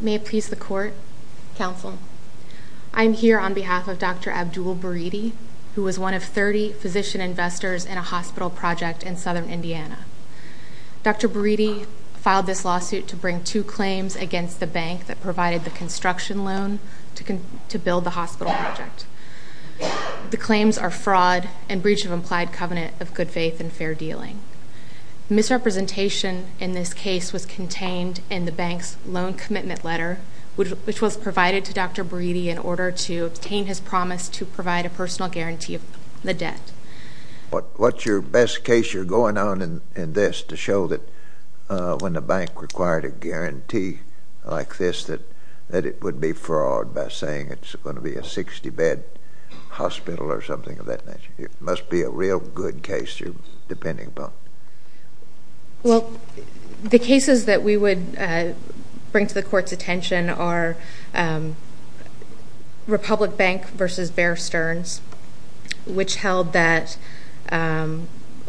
May it please the Court, Counsel. I am here on behalf of Dr. Abdul Buridi, who was one of 30 physician investors in a hospital project in southern Indiana. Dr. Buridi filed this lawsuit to bring two claims against the bank that provided the construction loan to build the hospital project. The claims are fraud and breach of implied covenant of good faith and fair dealing. Misrepresentation in this case was contained in the bank's loan commitment letter, which was provided to Dr. Buridi in order to obtain his promise to provide a personal guarantee of the debt. What's your best case you're going on in this to show that when the bank required a guarantee like this that it would be fraud by saying it's going to be a 60-bed hospital or something of that nature? It must be a real good case you're depending upon. The cases that we would bring to the Court's attention are Republic Bank v. Bear Stearns, which held that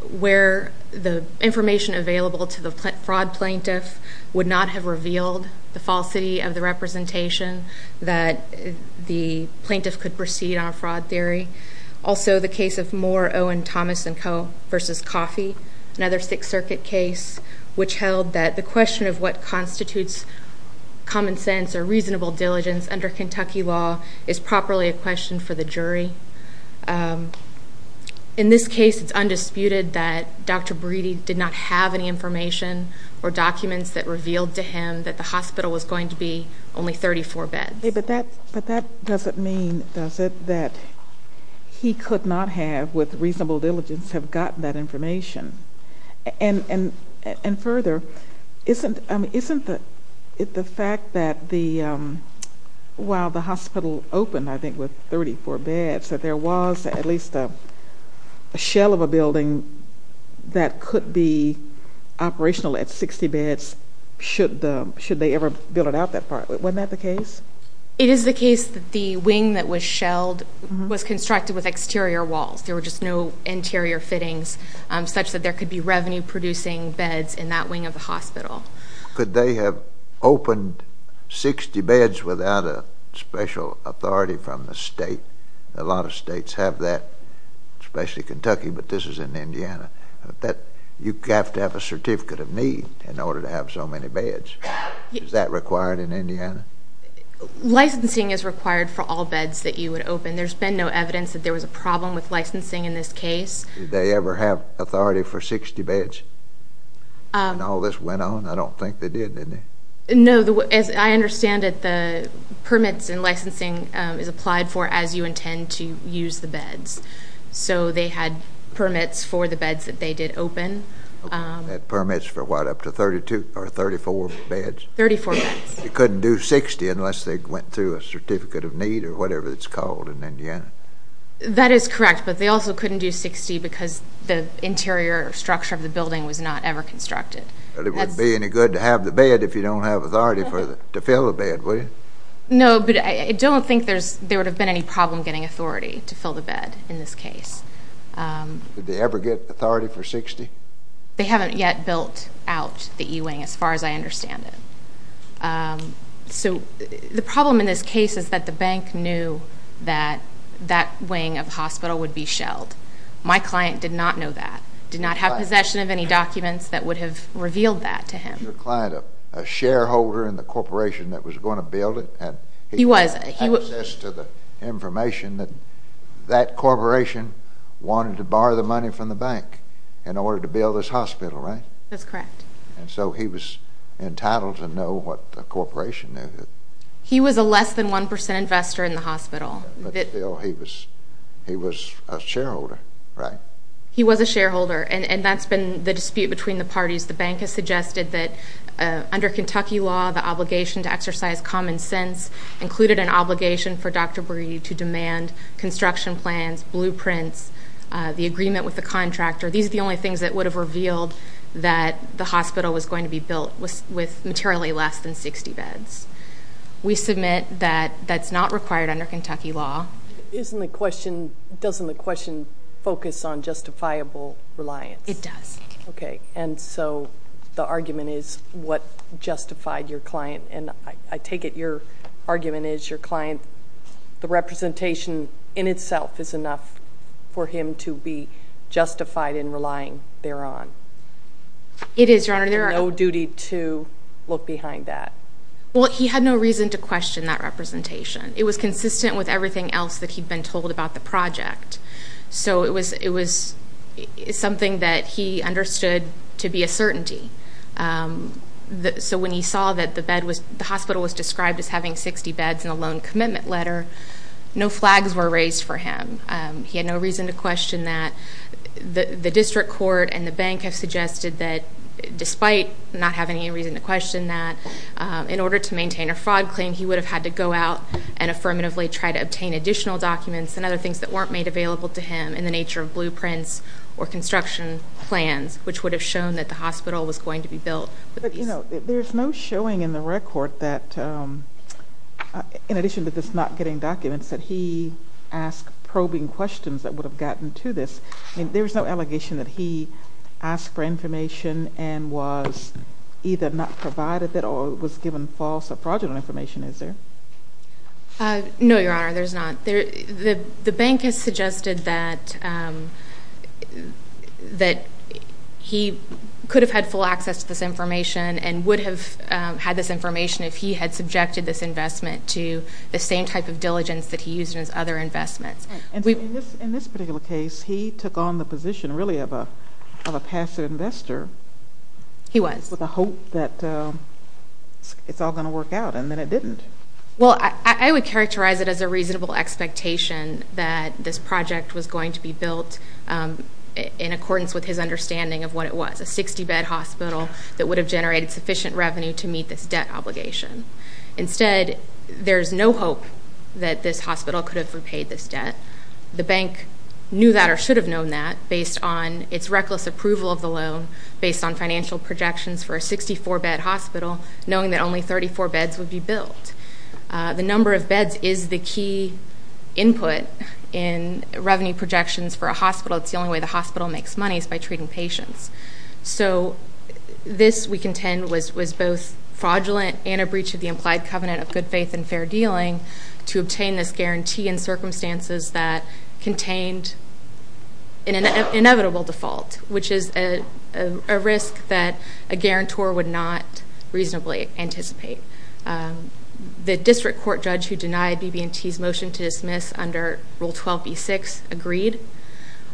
where the information available to the fraud plaintiff would not have revealed the falsity of the representation that the plaintiff could proceed on a fraud theory. Also the case of Moore, Owen, Thomas & Co. v. Coffey, another Sixth Circuit case, which held that the question of what constitutes common sense or reasonable diligence under Kentucky law is properly a question for the jury. In this case, it's undisputed that Dr. Buridi's hospital was going to be only 34 beds. But that doesn't mean, does it, that he could not have, with reasonable diligence, have gotten that information? And further, isn't it the fact that while the hospital opened, I think, with 34 beds, that there was at least a shell of a building that could be operational at 60 beds, should they ever build it out that far? Wasn't that the case? It is the case that the wing that was shelled was constructed with exterior walls. There were just no interior fittings such that there could be revenue-producing beds in that wing of the hospital. Could they have opened 60 beds without a special authority from the state? A lot of states have that, especially Kentucky, but this is in Indiana. You have to have a certificate of need in order to have so many beds. Is that required in Indiana? Licensing is required for all beds that you would open. There's been no evidence that there was a problem with licensing in this case. Did they ever have authority for 60 beds when all this went on? I don't think they did, did they? No. As I understand it, the permits and licensing is applied for as you intend to use the beds. So they had permits for the beds that they did open. They had permits for what, up to 32 or 34 beds? Thirty-four beds. You couldn't do 60 unless they went through a certificate of need or whatever it's called in Indiana? That is correct, but they also couldn't do 60 because the interior structure of the building was not ever constructed. But it wouldn't be any good to have the bed if you don't have authority to fill the bed, would it? No, but I don't think there would have been any problem getting authority to fill the bed in this case. Did they ever get authority for 60? They haven't yet built out the E-wing as far as I understand it. So the problem in this case is that the bank knew that that wing of hospital would be shelled. My client did not know that, did not have possession of any documents that would have revealed that to him. Was your client a shareholder in the corporation that was going to build it? He was. He had access to the information that that corporation wanted to borrow the money from the bank in order to build this hospital, right? That's correct. And so he was entitled to know what the corporation knew. He was a less than one percent investor in the hospital. But still, he was a shareholder, right? He was a shareholder, and that's been the dispute between the parties. The bank has suggested that under Kentucky law, the obligation to exercise common sense included an obligation for Dr. Breed to demand construction plans, blueprints, the agreement with the contractor. These are the only things that would have revealed that the hospital was going to be built with materially less than 60 beds. We submit that that's not required under Kentucky law. Isn't the question, doesn't the question focus on justifiable reliance? It does. Okay, and so the argument is what justified your client, and I take it your argument is your client, the representation in itself is enough for him to be justified in relying there on. It is, Your Honor. There is no duty to look behind that. Well, he had no reason to question that representation. It was consistent with everything else that he'd been told about the project. So it was something that he understood to be a certainty. So when he saw that the hospital was described as having 60 beds in a loan commitment letter, no flags were raised for him. He had no reason to question that. The district court and the bank have suggested that despite not having any reason to question that, in order to maintain a fraud claim, he would have had to go out and affirmatively try to obtain additional documents and other things that weren't made available to him in the nature of blueprints or construction plans, which would have shown that the hospital was going to be built. But, you know, there's no showing in the record that, in addition to this not getting documents, that he asked probing questions that would have gotten to this. There's no allegation that he asked for information and was either not provided it or was given false or fraudulent information, is there? No, Your Honor, there's not. The bank has suggested that he could have had full access to this information and would have had this information if he had subjected this investment to the same type of diligence that he used in his other investments. In this particular case, he took on the position, really, of a passive investor. He was. It's just like a hope that it's all going to work out, and then it didn't. Well, I would characterize it as a reasonable expectation that this project was going to be built in accordance with his understanding of what it was, a 60-bed hospital that would have generated sufficient revenue to meet this debt obligation. Instead, there's no hope that this hospital could have repaid this debt. The bank knew that or should have known that based on its reckless approval of the loan, based on financial projections for a 64-bed hospital, knowing that only 34 beds would be built. The number of beds is the key input in revenue projections for a hospital. It's the only way the hospital makes money is by treating patients. So this, we contend, was both fraudulent and a breach of the implied covenant of good faith and fair dealing to obtain this guarantee in circumstances that contained an inevitable default, which is a risk that a guarantor would not reasonably anticipate. The district court judge who denied BB&T's motion to dismiss under Rule 12b6 agreed.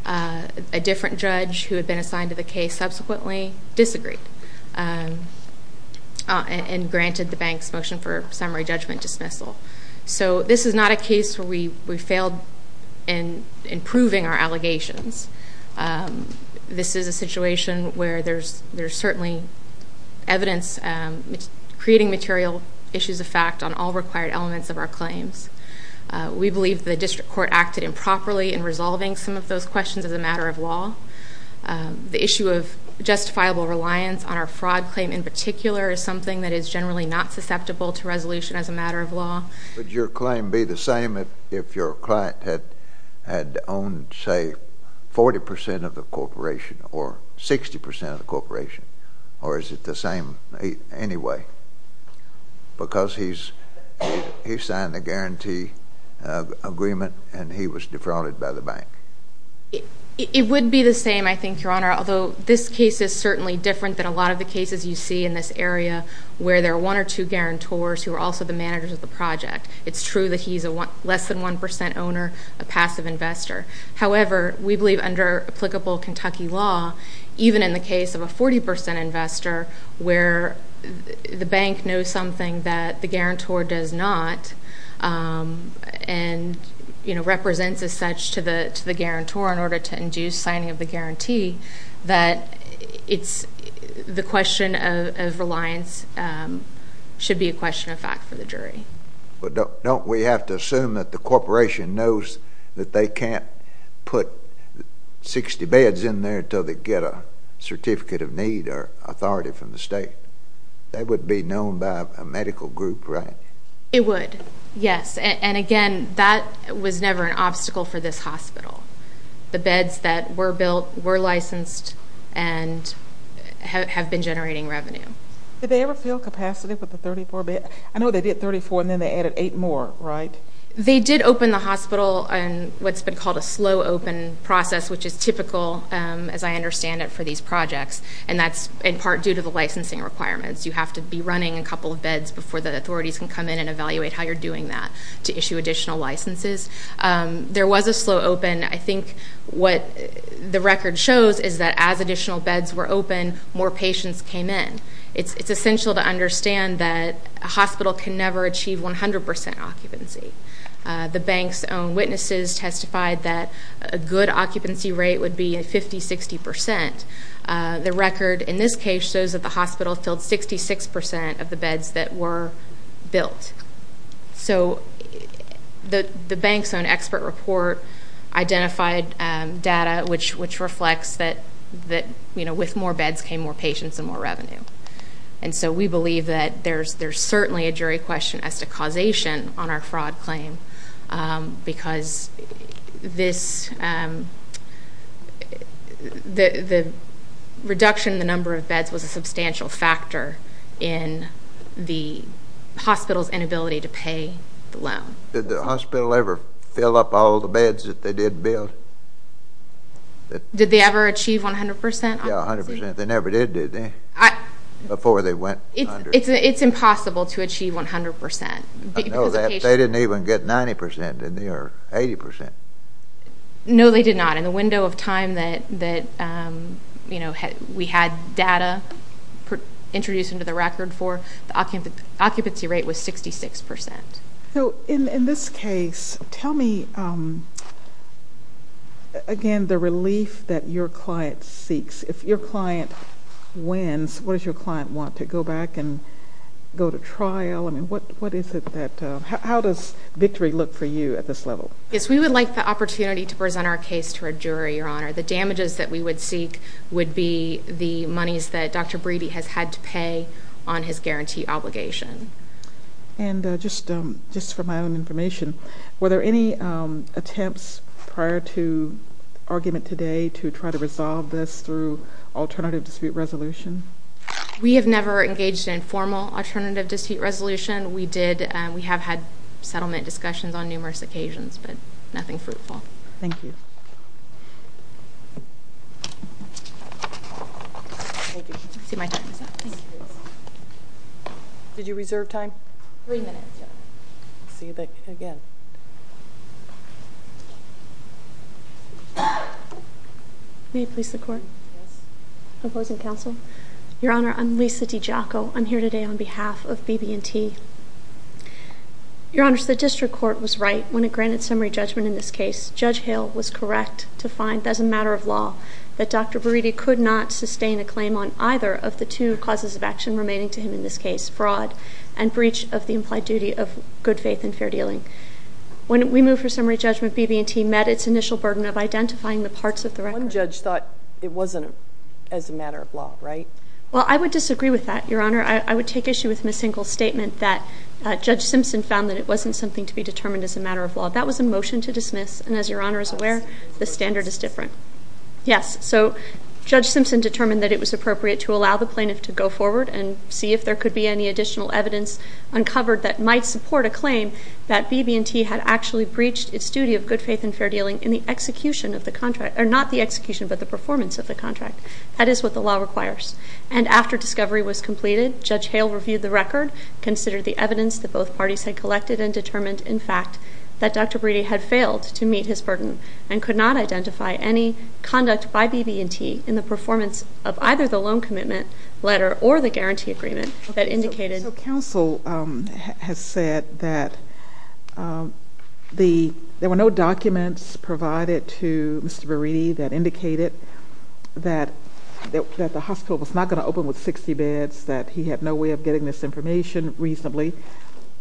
A different judge who had been assigned to the case subsequently disagreed and granted the bank's motion for summary judgment dismissal. So this is not a case where we failed in improving our allegations. This is a situation where there's certainly evidence creating material issues of fact on all required elements of our claims. We believe the district court acted improperly in resolving some of those questions as a matter of law. The issue of justifiable reliance on our fraud claim in particular is something that is generally not susceptible to resolution as a matter of law. Would your claim be the same if your client had owned, say, 40% of the corporation or 60% of the corporation? Or is it the same anyway? Because he signed the guarantee agreement and he was defrauded by the bank. It would be the same, I think, Your Honor. Although this case is certainly different than a lot of the cases you see in this area where there are one or two guarantors who are also the managers of the project. It's true that he's a less than 1% owner, a passive investor. However, we believe under applicable Kentucky law, even in the case of a 40% investor, where the bank knows something that the guarantor does not and represents as such to the guarantor in order to induce signing of the guarantee, that the question of reliance should be a question of fact for the jury. But don't we have to assume that the corporation knows that they can't put 60 beds in there until they get a certificate of need or authority from the state? That would be known by a medical group, right? It would, yes. And again, that was never an obstacle for this hospital. The beds that were built were licensed and have been generating revenue. Did they ever fill capacity with the 34 beds? I know they did 34 and then they added eight more, right? They did open the hospital in what's been called a slow open process, which is typical, as I understand it, for these projects. And that's in part due to the licensing requirements. You have to be running a couple of beds before the authorities can come in and evaluate how you're doing that to issue additional licenses. There was a slow open. I think what the record shows is that as additional beds were open, more patients came in. It's essential to understand that a hospital can never achieve 100% occupancy. The bank's own witnesses testified that a good occupancy rate would be 50, 60%. The record in this case shows that the hospital filled 66% of the beds that were built. So the bank's own expert report identified data which reflects that with more beds came more patients and more revenue. And so we believe that there's certainly a jury question as to causation on our fraud claim. Because the reduction in the number of beds was a substantial factor in the hospital's inability to pay the loan. Did the hospital ever fill up all the beds that they did build? Did they ever achieve 100% occupancy? Yeah, 100%. They never did, did they? Before they went under. It's impossible to achieve 100%. I know that. They didn't even get 90%, did they, or 80%? No, they did not. In the window of time that we had data introduced into the record for, the occupancy rate was 66%. So in this case, tell me, again, the relief that your client seeks. If your client wins, what does your client want? To go back and go to trial? I mean, what is it that, how does victory look for you at this level? Yes, we would like the opportunity to present our case to a jury, Your Honor. The damages that we would seek would be the monies that Dr. Brady has had to pay on his guarantee obligation. And just for my own information, were there any attempts prior to argument today to try to resolve this through alternative dispute resolution? We have never engaged in formal alternative dispute resolution. We did, we have had settlement discussions on numerous occasions. But nothing fruitful. Thank you. Did you reserve time? Three minutes, yeah. See you back again. May it please the court? Opposing counsel? Your Honor, I'm Lisa DiGiacco. I'm here today on behalf of BB&T. Your Honor, so the district court was right when it granted summary judgment in this case. Judge Hale was correct to find, as a matter of law, that Dr. Brady could not sustain a claim on either of the two causes of action remaining to him in this case. Fraud and breach of the implied duty of good faith and fair dealing. When we moved for summary judgment, BB&T met its initial burden of identifying the parts of the record. One judge thought it wasn't as a matter of law, right? Well, I would disagree with that, Your Honor. I would take issue with Ms. Hinkle's statement that Judge Simpson found that it wasn't something to be determined as a matter of law. That was a motion to dismiss. And as Your Honor is aware, the standard is different. Yes, so Judge Simpson determined that it was appropriate to allow the plaintiff to go forward and see if there could be any additional evidence uncovered that might support a claim that BB&T had actually breached its duty of good faith and fair dealing in the execution of the contract. Or not the execution, but the performance of the contract. That is what the law requires. And after discovery was completed, Judge Hale reviewed the record, considered the evidence that both parties had collected, and determined, in fact, that Dr. Buriti had failed to meet his burden and could not identify any conduct by BB&T in the performance of either the loan commitment letter or the guarantee agreement that indicated. So counsel has said that there were no documents provided to Mr. Buriti that indicated that the hospital was not going to open with 60 beds, that he had no way of getting this information reasonably,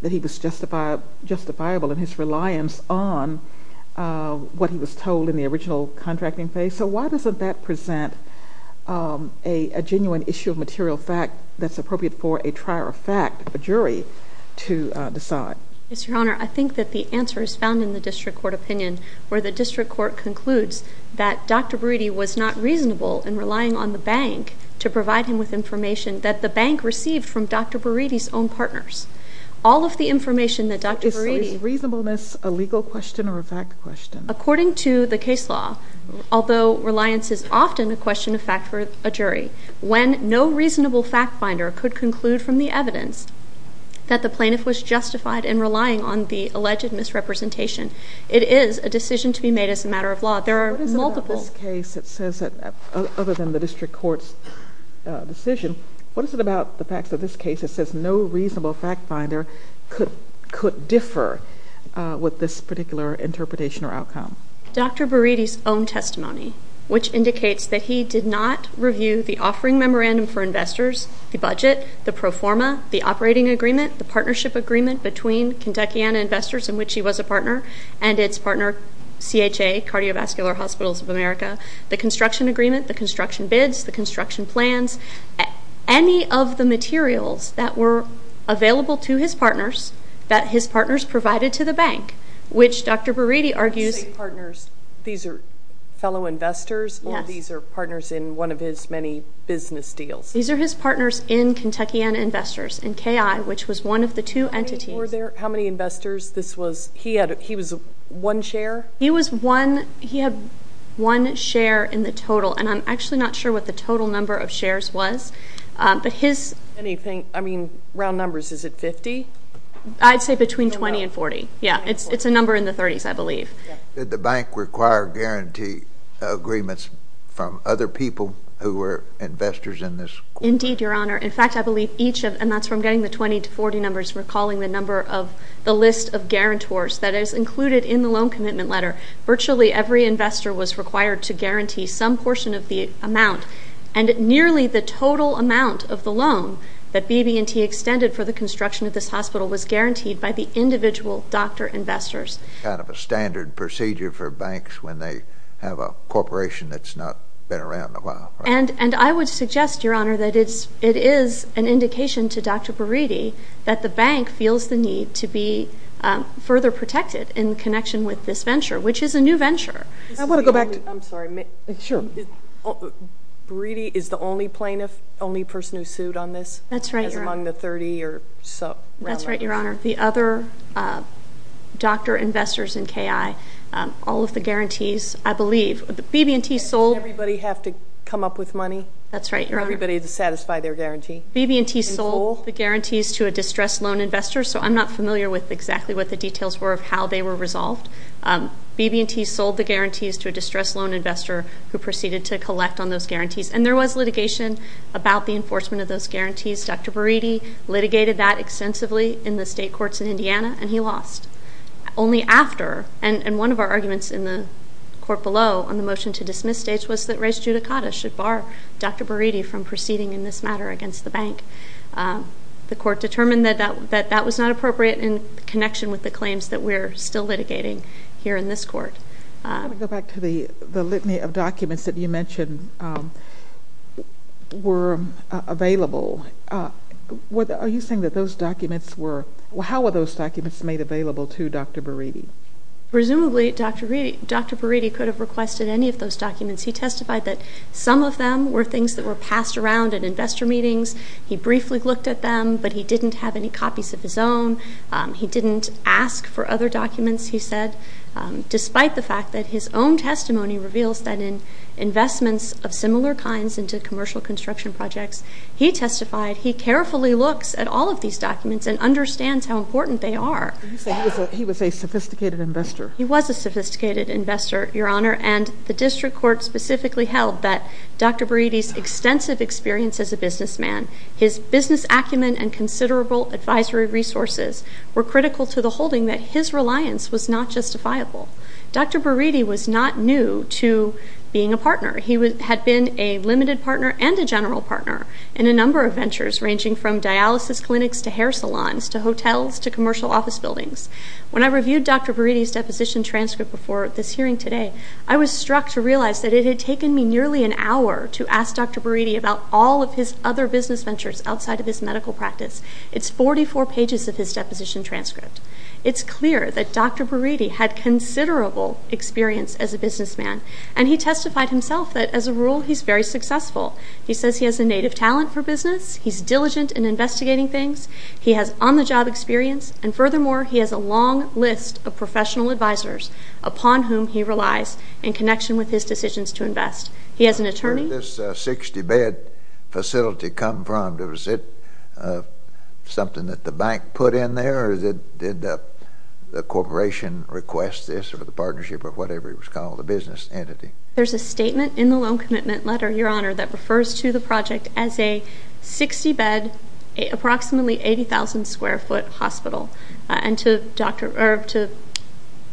that he was justifiable in his reliance on what he was told in the original contracting phase. So why doesn't that present a genuine issue of material fact that's appropriate for a trier of fact, a jury, to decide? Yes, Your Honor. I think that the answer is found in the district court opinion, where the district court concludes that Dr. Buriti was not reasonable in relying on the bank to provide him with information that the bank received from Dr. Buriti's own partners. All of the information that Dr. Buriti... So is reasonableness a legal question or a fact question? According to the case law, although reliance is often a question of fact for a jury, when no reasonable fact finder could conclude from the evidence that the plaintiff was justified in relying on the alleged misrepresentation, it is a decision to be made as a matter of law. There are multiple... What is it about this case that says that, other than the district court's decision, what is it about the facts of this case that says no reasonable fact finder could differ with this particular interpretation or outcome? Dr. Buriti's own testimony, which indicates that he did not review the offering memorandum for investors, the budget, the pro forma, the operating agreement, the partnership agreement between Kentuckiana Investors, in which he was a partner, and its partner, CHA, Cardiovascular Hospitals of America, the construction agreement, the construction bids, the construction plans, any of the materials that were available to his partners that his partners provided to the bank, which Dr. Buriti argues... When you say partners, these are fellow investors? Yes. Or these are partners in one of his many business deals? These are his partners in Kentuckiana Investors, in KI, which was one of the two entities... Were there... How many investors this was? He was one share? He was one... He had one share in the total, and I'm actually not sure what the total number of shares was, but his... Anything... I mean, round numbers. Is it 50? I'd say between 20 and 40. Yeah, it's a number in the 30s, I believe. Did the bank require guarantee agreements from other people who were investors in this court? Indeed, Your Honor. In fact, I believe each of... And that's where I'm getting the 20 to 40 numbers. We're calling the number of the list of guarantors that is included in the loan commitment letter. Virtually every investor was required to guarantee some portion of the amount, and nearly the total amount of the loan that BB&T extended for the construction of this hospital was guaranteed by the individual doctor investors. Kind of a standard procedure for banks when they have a corporation that's not been around a while, right? And I would suggest, Your Honor, that it is an indication to Dr. Buriti that the bank feels the need to be further protected in connection with this venture, which is a new venture. I want to go back to... I'm sorry. Sure. Buriti is the only plaintiff, only person who sued on this? That's right, Your Honor. As among the 30 or so... That's right, Your Honor. The other doctor investors in KI, Does everybody have to come up with money? That's right, Your Honor. For everybody to satisfy their guarantee? BB&T sold the guarantees to a distressed loan investor, so I'm not familiar with exactly what the details were of how they were resolved. BB&T sold the guarantees to a distressed loan investor who proceeded to collect on those guarantees. And there was litigation about the enforcement of those guarantees. Dr. Buriti litigated that extensively in the state courts in Indiana, and he lost. Only after, and one of our arguments in the court below on the motion to dismiss states was that res judicata should bar Dr. Buriti from proceeding in this matter against the bank. The court determined that that was not appropriate in connection with the claims that we're still litigating here in this court. I want to go back to the litany of documents that you mentioned were available. Are you saying that those documents were... How were those documents made available to Dr. Buriti? Presumably, Dr. Buriti could have requested any of those documents. He testified that some of them were things that were passed around at investor meetings. He briefly looked at them, but he didn't have any copies of his own. He didn't ask for other documents, he said, despite the fact that his own testimony reveals that in investments of similar kinds into commercial construction projects, he testified he carefully looks at all of these documents and understands how important they are. So you say he was a sophisticated investor? He was a sophisticated investor, Your Honor, and the district court specifically held that Dr. Buriti's extensive experience as a businessman, his business acumen and considerable advisory resources were critical to the holding that his reliance was not justifiable. Dr. Buriti was not new to being a partner. He had been a limited partner and a general partner in a number of ventures, ranging from dialysis clinics to hair salons to hotels to commercial office buildings. When I reviewed Dr. Buriti's deposition transcript before this hearing today, I was struck to realize that it had taken me nearly an hour to ask Dr. Buriti about all of his other business ventures outside of his medical practice. It's 44 pages of his deposition transcript. It's clear that Dr. Buriti had considerable experience as a businessman, and he testified himself that, as a rule, he's very successful. He says he has a native talent for business, he's diligent in investigating things, he has on-the-job experience, and furthermore, he has a long list of professional advisors upon whom he relies in connection with his decisions to invest. He has an attorney... Where did this 60-bed facility come from? Was it something that the bank put in there, or did the corporation request this, or the partnership, or whatever it was called, the business entity? There's a statement in the loan commitment letter, Your Honor, that refers to the project as a 60-bed, approximately 80,000-square-foot hospital. And to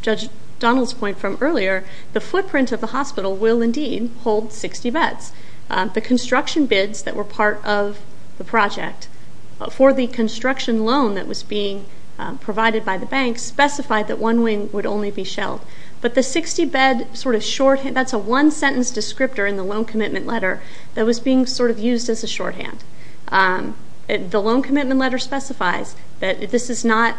Judge Donald's point from earlier, the footprint of the hospital will, indeed, hold 60 beds. The construction bids that were part of the project for the construction loan that was being provided by the bank specified that one wing would only be shelled. But the 60-bed sort of shorthand... That's a one-sentence descriptor in the loan commitment letter that was being sort of used as a shorthand. The loan commitment letter specifies that this is not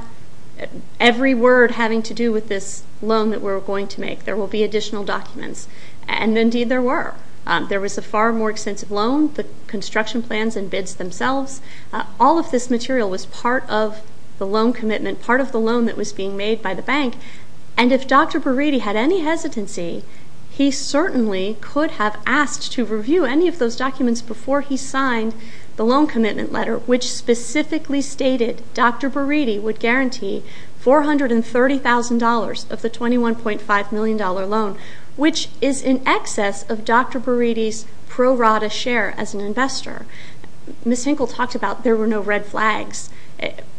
every word having to do with this loan that we're going to make. There will be additional documents. And, indeed, there were. There was a far more extensive loan, the construction plans and bids themselves. All of this material was part of the loan commitment, part of the loan that was being made by the bank. And if Dr. Burriti had any hesitancy, he certainly could have asked to review any of those documents before he signed the loan commitment letter, which specifically stated Dr. Burriti would guarantee $430,000 of the $21.5 million loan, which is in excess of Dr. Burriti's pro rata share as an investor. Ms. Hinkle talked about there were no red flags.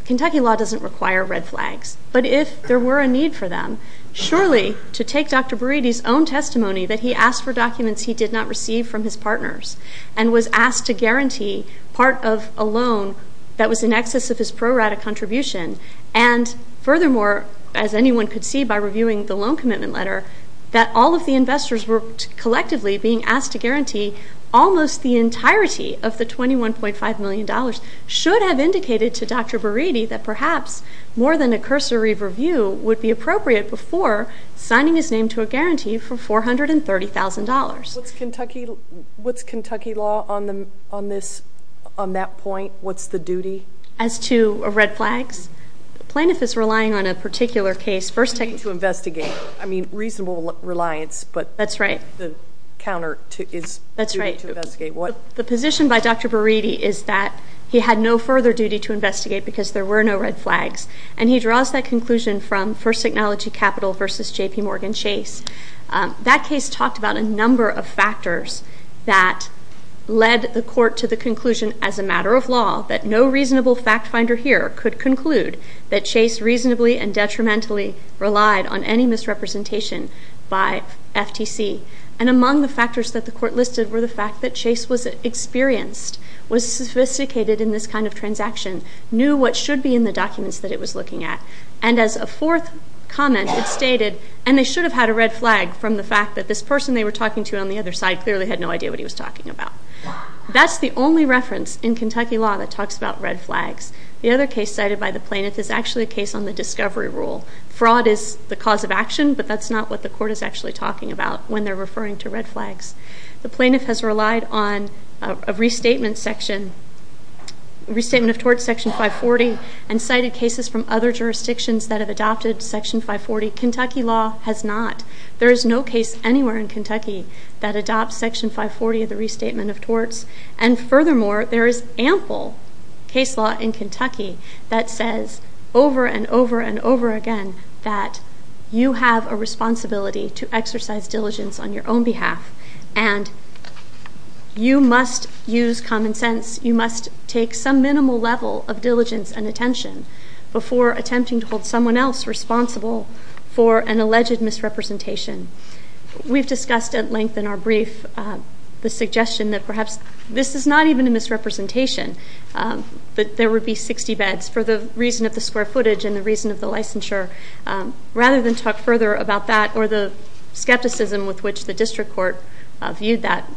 Kentucky law doesn't require red flags. But if there were a need for them, surely to take Dr. Burriti's own testimony that he asked for documents he did not receive from his partners and was asked to guarantee part of a loan that was in excess of his pro rata contribution. And, furthermore, as anyone could see by reviewing the loan commitment letter, that all of the investors were collectively being asked to guarantee almost the entirety of the $21.5 million should have indicated to Dr. Burriti that perhaps more than a cursory review would be appropriate before signing his name to a guarantee for $430,000. What's Kentucky law on that point? What's the duty? As to red flags? The plaintiff is relying on a particular case. A duty to investigate. I mean, reasonable reliance, but the counter is a duty to investigate. The position by Dr. Burriti is that he had no further duty to investigate because there were no red flags. And he draws that conclusion from First Technology Capital versus JPMorgan Chase. That case talked about a number of factors that led the court to the conclusion as a matter of law that no reasonable fact finder here could conclude that Chase reasonably and detrimentally relied on any misrepresentation by FTC. And among the factors that the court listed were the fact that Chase was experienced, was sophisticated in this kind of transaction, knew what should be in the documents that it was looking at, and as a fourth comment it stated, and they should have had a red flag from the fact that this person they were talking to on the other side clearly had no idea what he was talking about. That's the only reference in Kentucky law that talks about red flags. The other case cited by the plaintiff is actually a case on the discovery rule. Fraud is the cause of action, but that's not what the court is actually talking about when they're referring to red flags. The plaintiff has relied on a restatement section, restatement of torts section 540, and cited cases from other jurisdictions that have adopted section 540. Kentucky law has not. There is no case anywhere in Kentucky that adopts section 540 of the restatement of torts. And furthermore, there is ample case law in Kentucky that says over and over and over again that you have a responsibility to exercise diligence on your own behalf and you must use common sense, you must take some minimal level of diligence and attention before attempting to hold someone else responsible for an alleged misrepresentation. We've discussed at length in our brief the suggestion that perhaps this is not even a misrepresentation, that there would be 60 beds for the reason of the square footage and the reason of the licensure. Rather than talk further about that or the skepticism with which the district court viewed that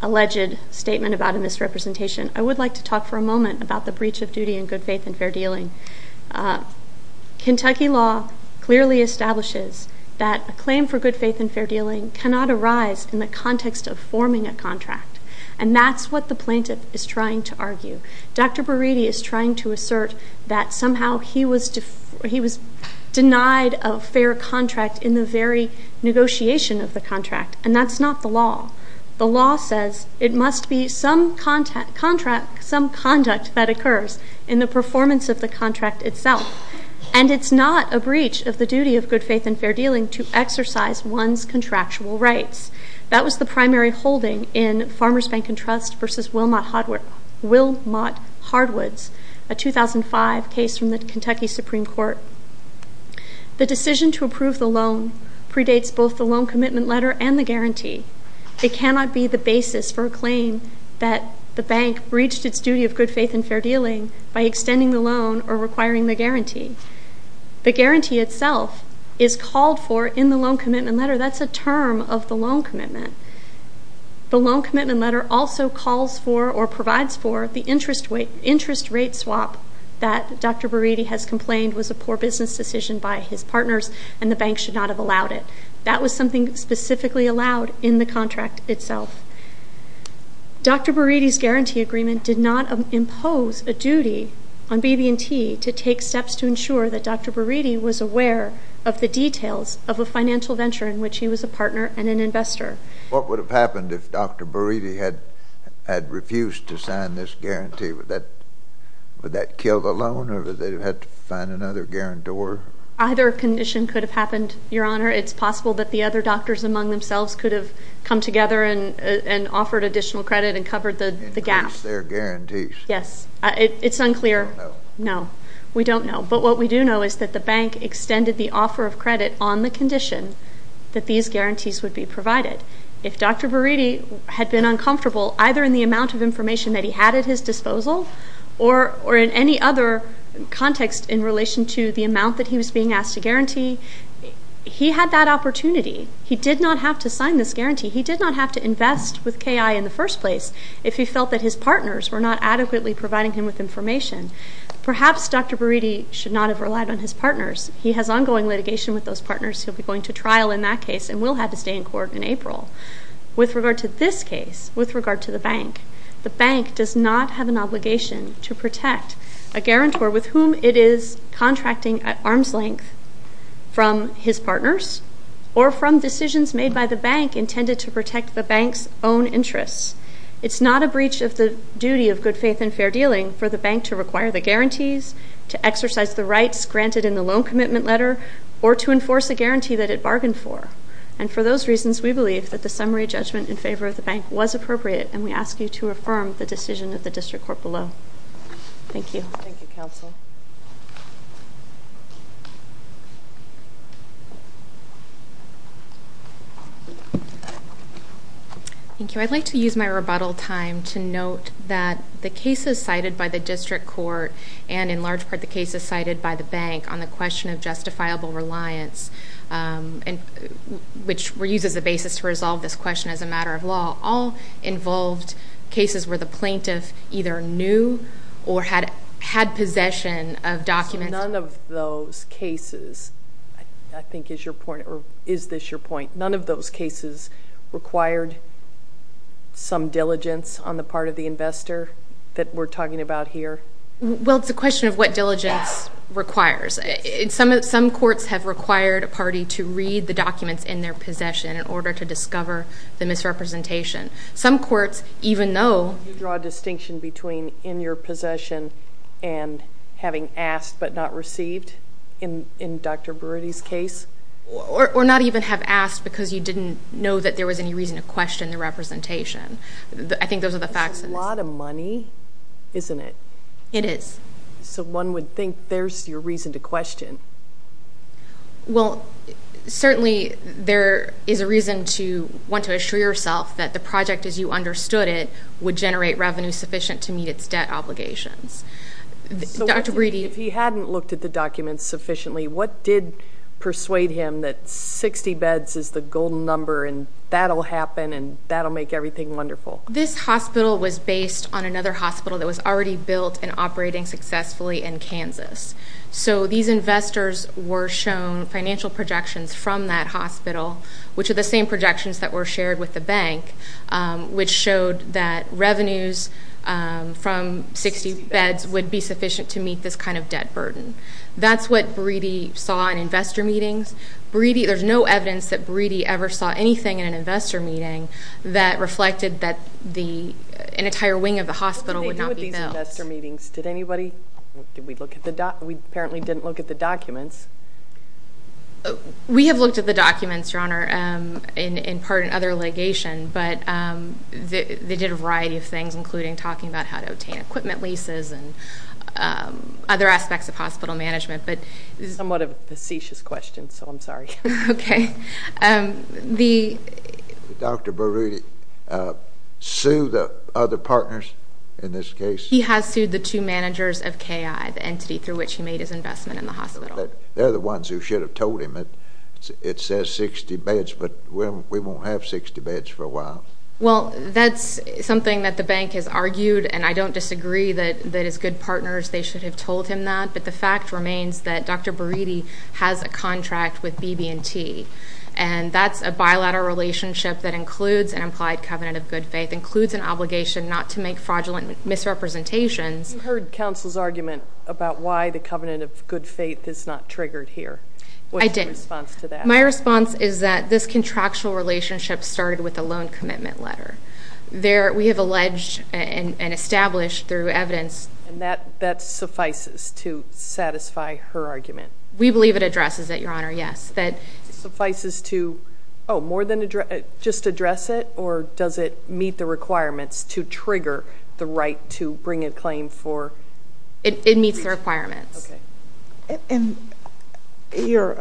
alleged statement about a misrepresentation, I would like to talk for a moment about the breach of duty in good faith and fair dealing. Kentucky law clearly establishes that a claim for good faith and fair dealing cannot arise in the context of forming a contract. And that's what the plaintiff is trying to argue. Dr. Buriti is trying to assert that somehow he was denied a fair contract in the very negotiation of the contract. And that's not the law. The law says it must be some conduct that occurs in the performance of the contract itself. And it's not a breach of the duty of good faith and fair dealing to exercise one's contractual rights. That was the primary holding in Farmers Bank and Trust versus Wilmot Hardwoods, a 2005 case from the Kentucky Supreme Court. The decision to approve the loan predates both the loan commitment letter and the guarantee. It cannot be the basis for a claim that the bank breached its duty of good faith and fair dealing by extending the loan or requiring the guarantee. The guarantee itself is called for in the loan commitment letter. That's a term of the loan commitment. The loan commitment letter also calls for or provides for the interest rate swap that Dr. Buriti has complained was a poor business decision by his partners and the bank should not have allowed it. That was something specifically allowed in the contract itself. Dr. Buriti's guarantee agreement did not impose a duty on BB&T to take steps to ensure that Dr. Buriti was aware of the details of a financial venture in which he was a partner and an investor. What would have happened if Dr. Buriti had refused to sign this guarantee? Would that kill the loan or would they have had to find another guarantor? Either condition could have happened, Your Honor. It's possible that the other doctors among themselves could have come together and offered additional credit and covered the gap. Increase their guarantees. Yes. It's unclear. We don't know. No, we don't know. But what we do know is that the bank extended the offer of credit on the condition that these guarantees would be provided. If Dr. Buriti had been uncomfortable, either in the amount of information that he had at his disposal or in any other context in relation to the amount that he was being asked to guarantee, he had that opportunity. He did not have to sign this guarantee. He did not have to invest with KI in the first place if he felt that his partners were not adequately providing him with information. Perhaps Dr. Buriti should not have relied on his partners. He has ongoing litigation with those partners. He'll be going to trial in that case and will have his day in court in April. With regard to this case, with regard to the bank, the bank does not have an obligation to protect a guarantor with whom it is contracting at arm's length from his partners or from decisions made by the bank intended to protect the bank's own interests. It's not a breach of the duty of good faith and fair dealing for the bank to require the guarantees, to exercise the rights granted in the loan commitment letter, or to enforce a guarantee that it bargained for. And for those reasons, we believe that the summary judgment in favor of the bank was appropriate, and we ask you to affirm the decision of the district court below. Thank you. Thank you, counsel. Thank you. I'd like to use my rebuttal time to note that the cases cited by the district court and in large part the cases cited by the bank on the question of justifiable reliance, which were used as a basis to resolve this question as a matter of law, all involved cases where the plaintiff either knew or had possession of documents. None of those cases, I think is your point, or is this your point, none of those cases required some diligence on the part of the investor that we're talking about here? Well, it's a question of what diligence requires. Some courts have required a party to read the documents in their possession in order to discover the misrepresentation. Some courts, even though you draw a distinction between in your possession and having asked but not received in Dr. Broody's case? Or not even have asked because you didn't know that there was any reason to question the representation. I think those are the facts. That's a lot of money, isn't it? So one would think there's your reason to question. Well, certainly there is a reason to want to assure yourself that the project as you understood it would generate revenue sufficient to meet its debt obligations. Dr. Broody? If he hadn't looked at the documents sufficiently, what did persuade him that 60 beds is the golden number and that'll happen and that'll make everything wonderful? This hospital was based on another hospital that was already built and operating successfully in Kansas. So these investors were shown financial projections from that hospital, which are the same projections that were shared with the bank, which showed that revenues from 60 beds would be sufficient to meet this kind of debt burden. That's what Broody saw in investor meetings. There's no evidence that Broody ever saw anything in an investor meeting that reflected that an entire wing of the hospital would not be built. What did they do at these investor meetings? Did anybody? We apparently didn't look at the documents. We have looked at the documents, Your Honor, in part in other litigation, but they did a variety of things, including talking about how to obtain equipment leases and other aspects of hospital management. This is somewhat a facetious question, so I'm sorry. Okay. Did Dr. Broody sue the other partners in this case? He has sued the two managers of KI, the entity through which he made his investment in the hospital. They're the ones who should have told him it says 60 beds, but we won't have 60 beds for a while. Well, that's something that the bank has argued, and I don't disagree that as good partners they should have told him that, but the fact remains that Dr. Broody has a contract with BB&T, and that's a bilateral relationship that includes an implied covenant of good faith, includes an obligation not to make fraudulent misrepresentations. You heard counsel's argument about why the covenant of good faith is not triggered here. I did. What's your response to that? My response is that this contractual relationship started with a loan commitment letter. We have alleged and established through evidence. And that suffices to satisfy her argument? We believe it addresses it, Your Honor, yes. Suffices to, oh, more than just address it, or does it meet the requirements to trigger the right to bring a claim for? It meets the requirements. Okay. And your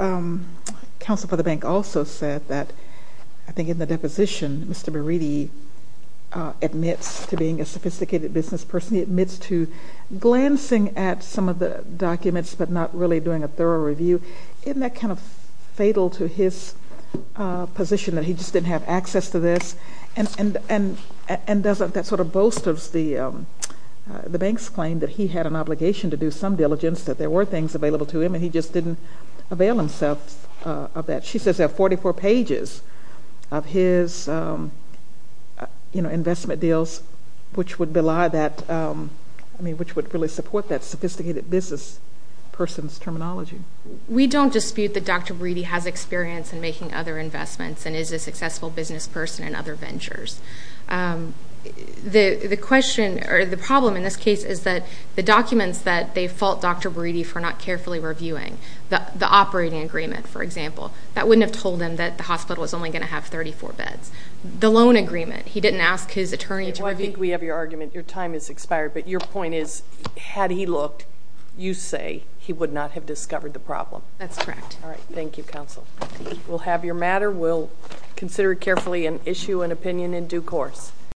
counsel for the bank also said that, I think in the deposition, Mr. Broody admits to being a sophisticated business person. He admits to glancing at some of the documents but not really doing a thorough review. Isn't that kind of fatal to his position that he just didn't have access to this? And doesn't that sort of boast of the bank's claim that he had an obligation to do some diligence, that there were things available to him, and he just didn't avail himself of that? She says there are 44 pages of his investment deals, which would really support that sophisticated business person's terminology. We don't dispute that Dr. Broody has experience in making other investments and is a successful business person in other ventures. The problem in this case is that the documents that they fault Dr. Broody for not carefully reviewing, the operating agreement, for example, that wouldn't have told him that the hospital was only going to have 34 beds. The loan agreement, he didn't ask his attorney to review. I think we have your argument. Your time has expired. But your point is, had he looked, you say he would not have discovered the problem. That's correct. All right. Thank you, counsel. We'll have your matter. We'll consider it carefully and issue an opinion in due course.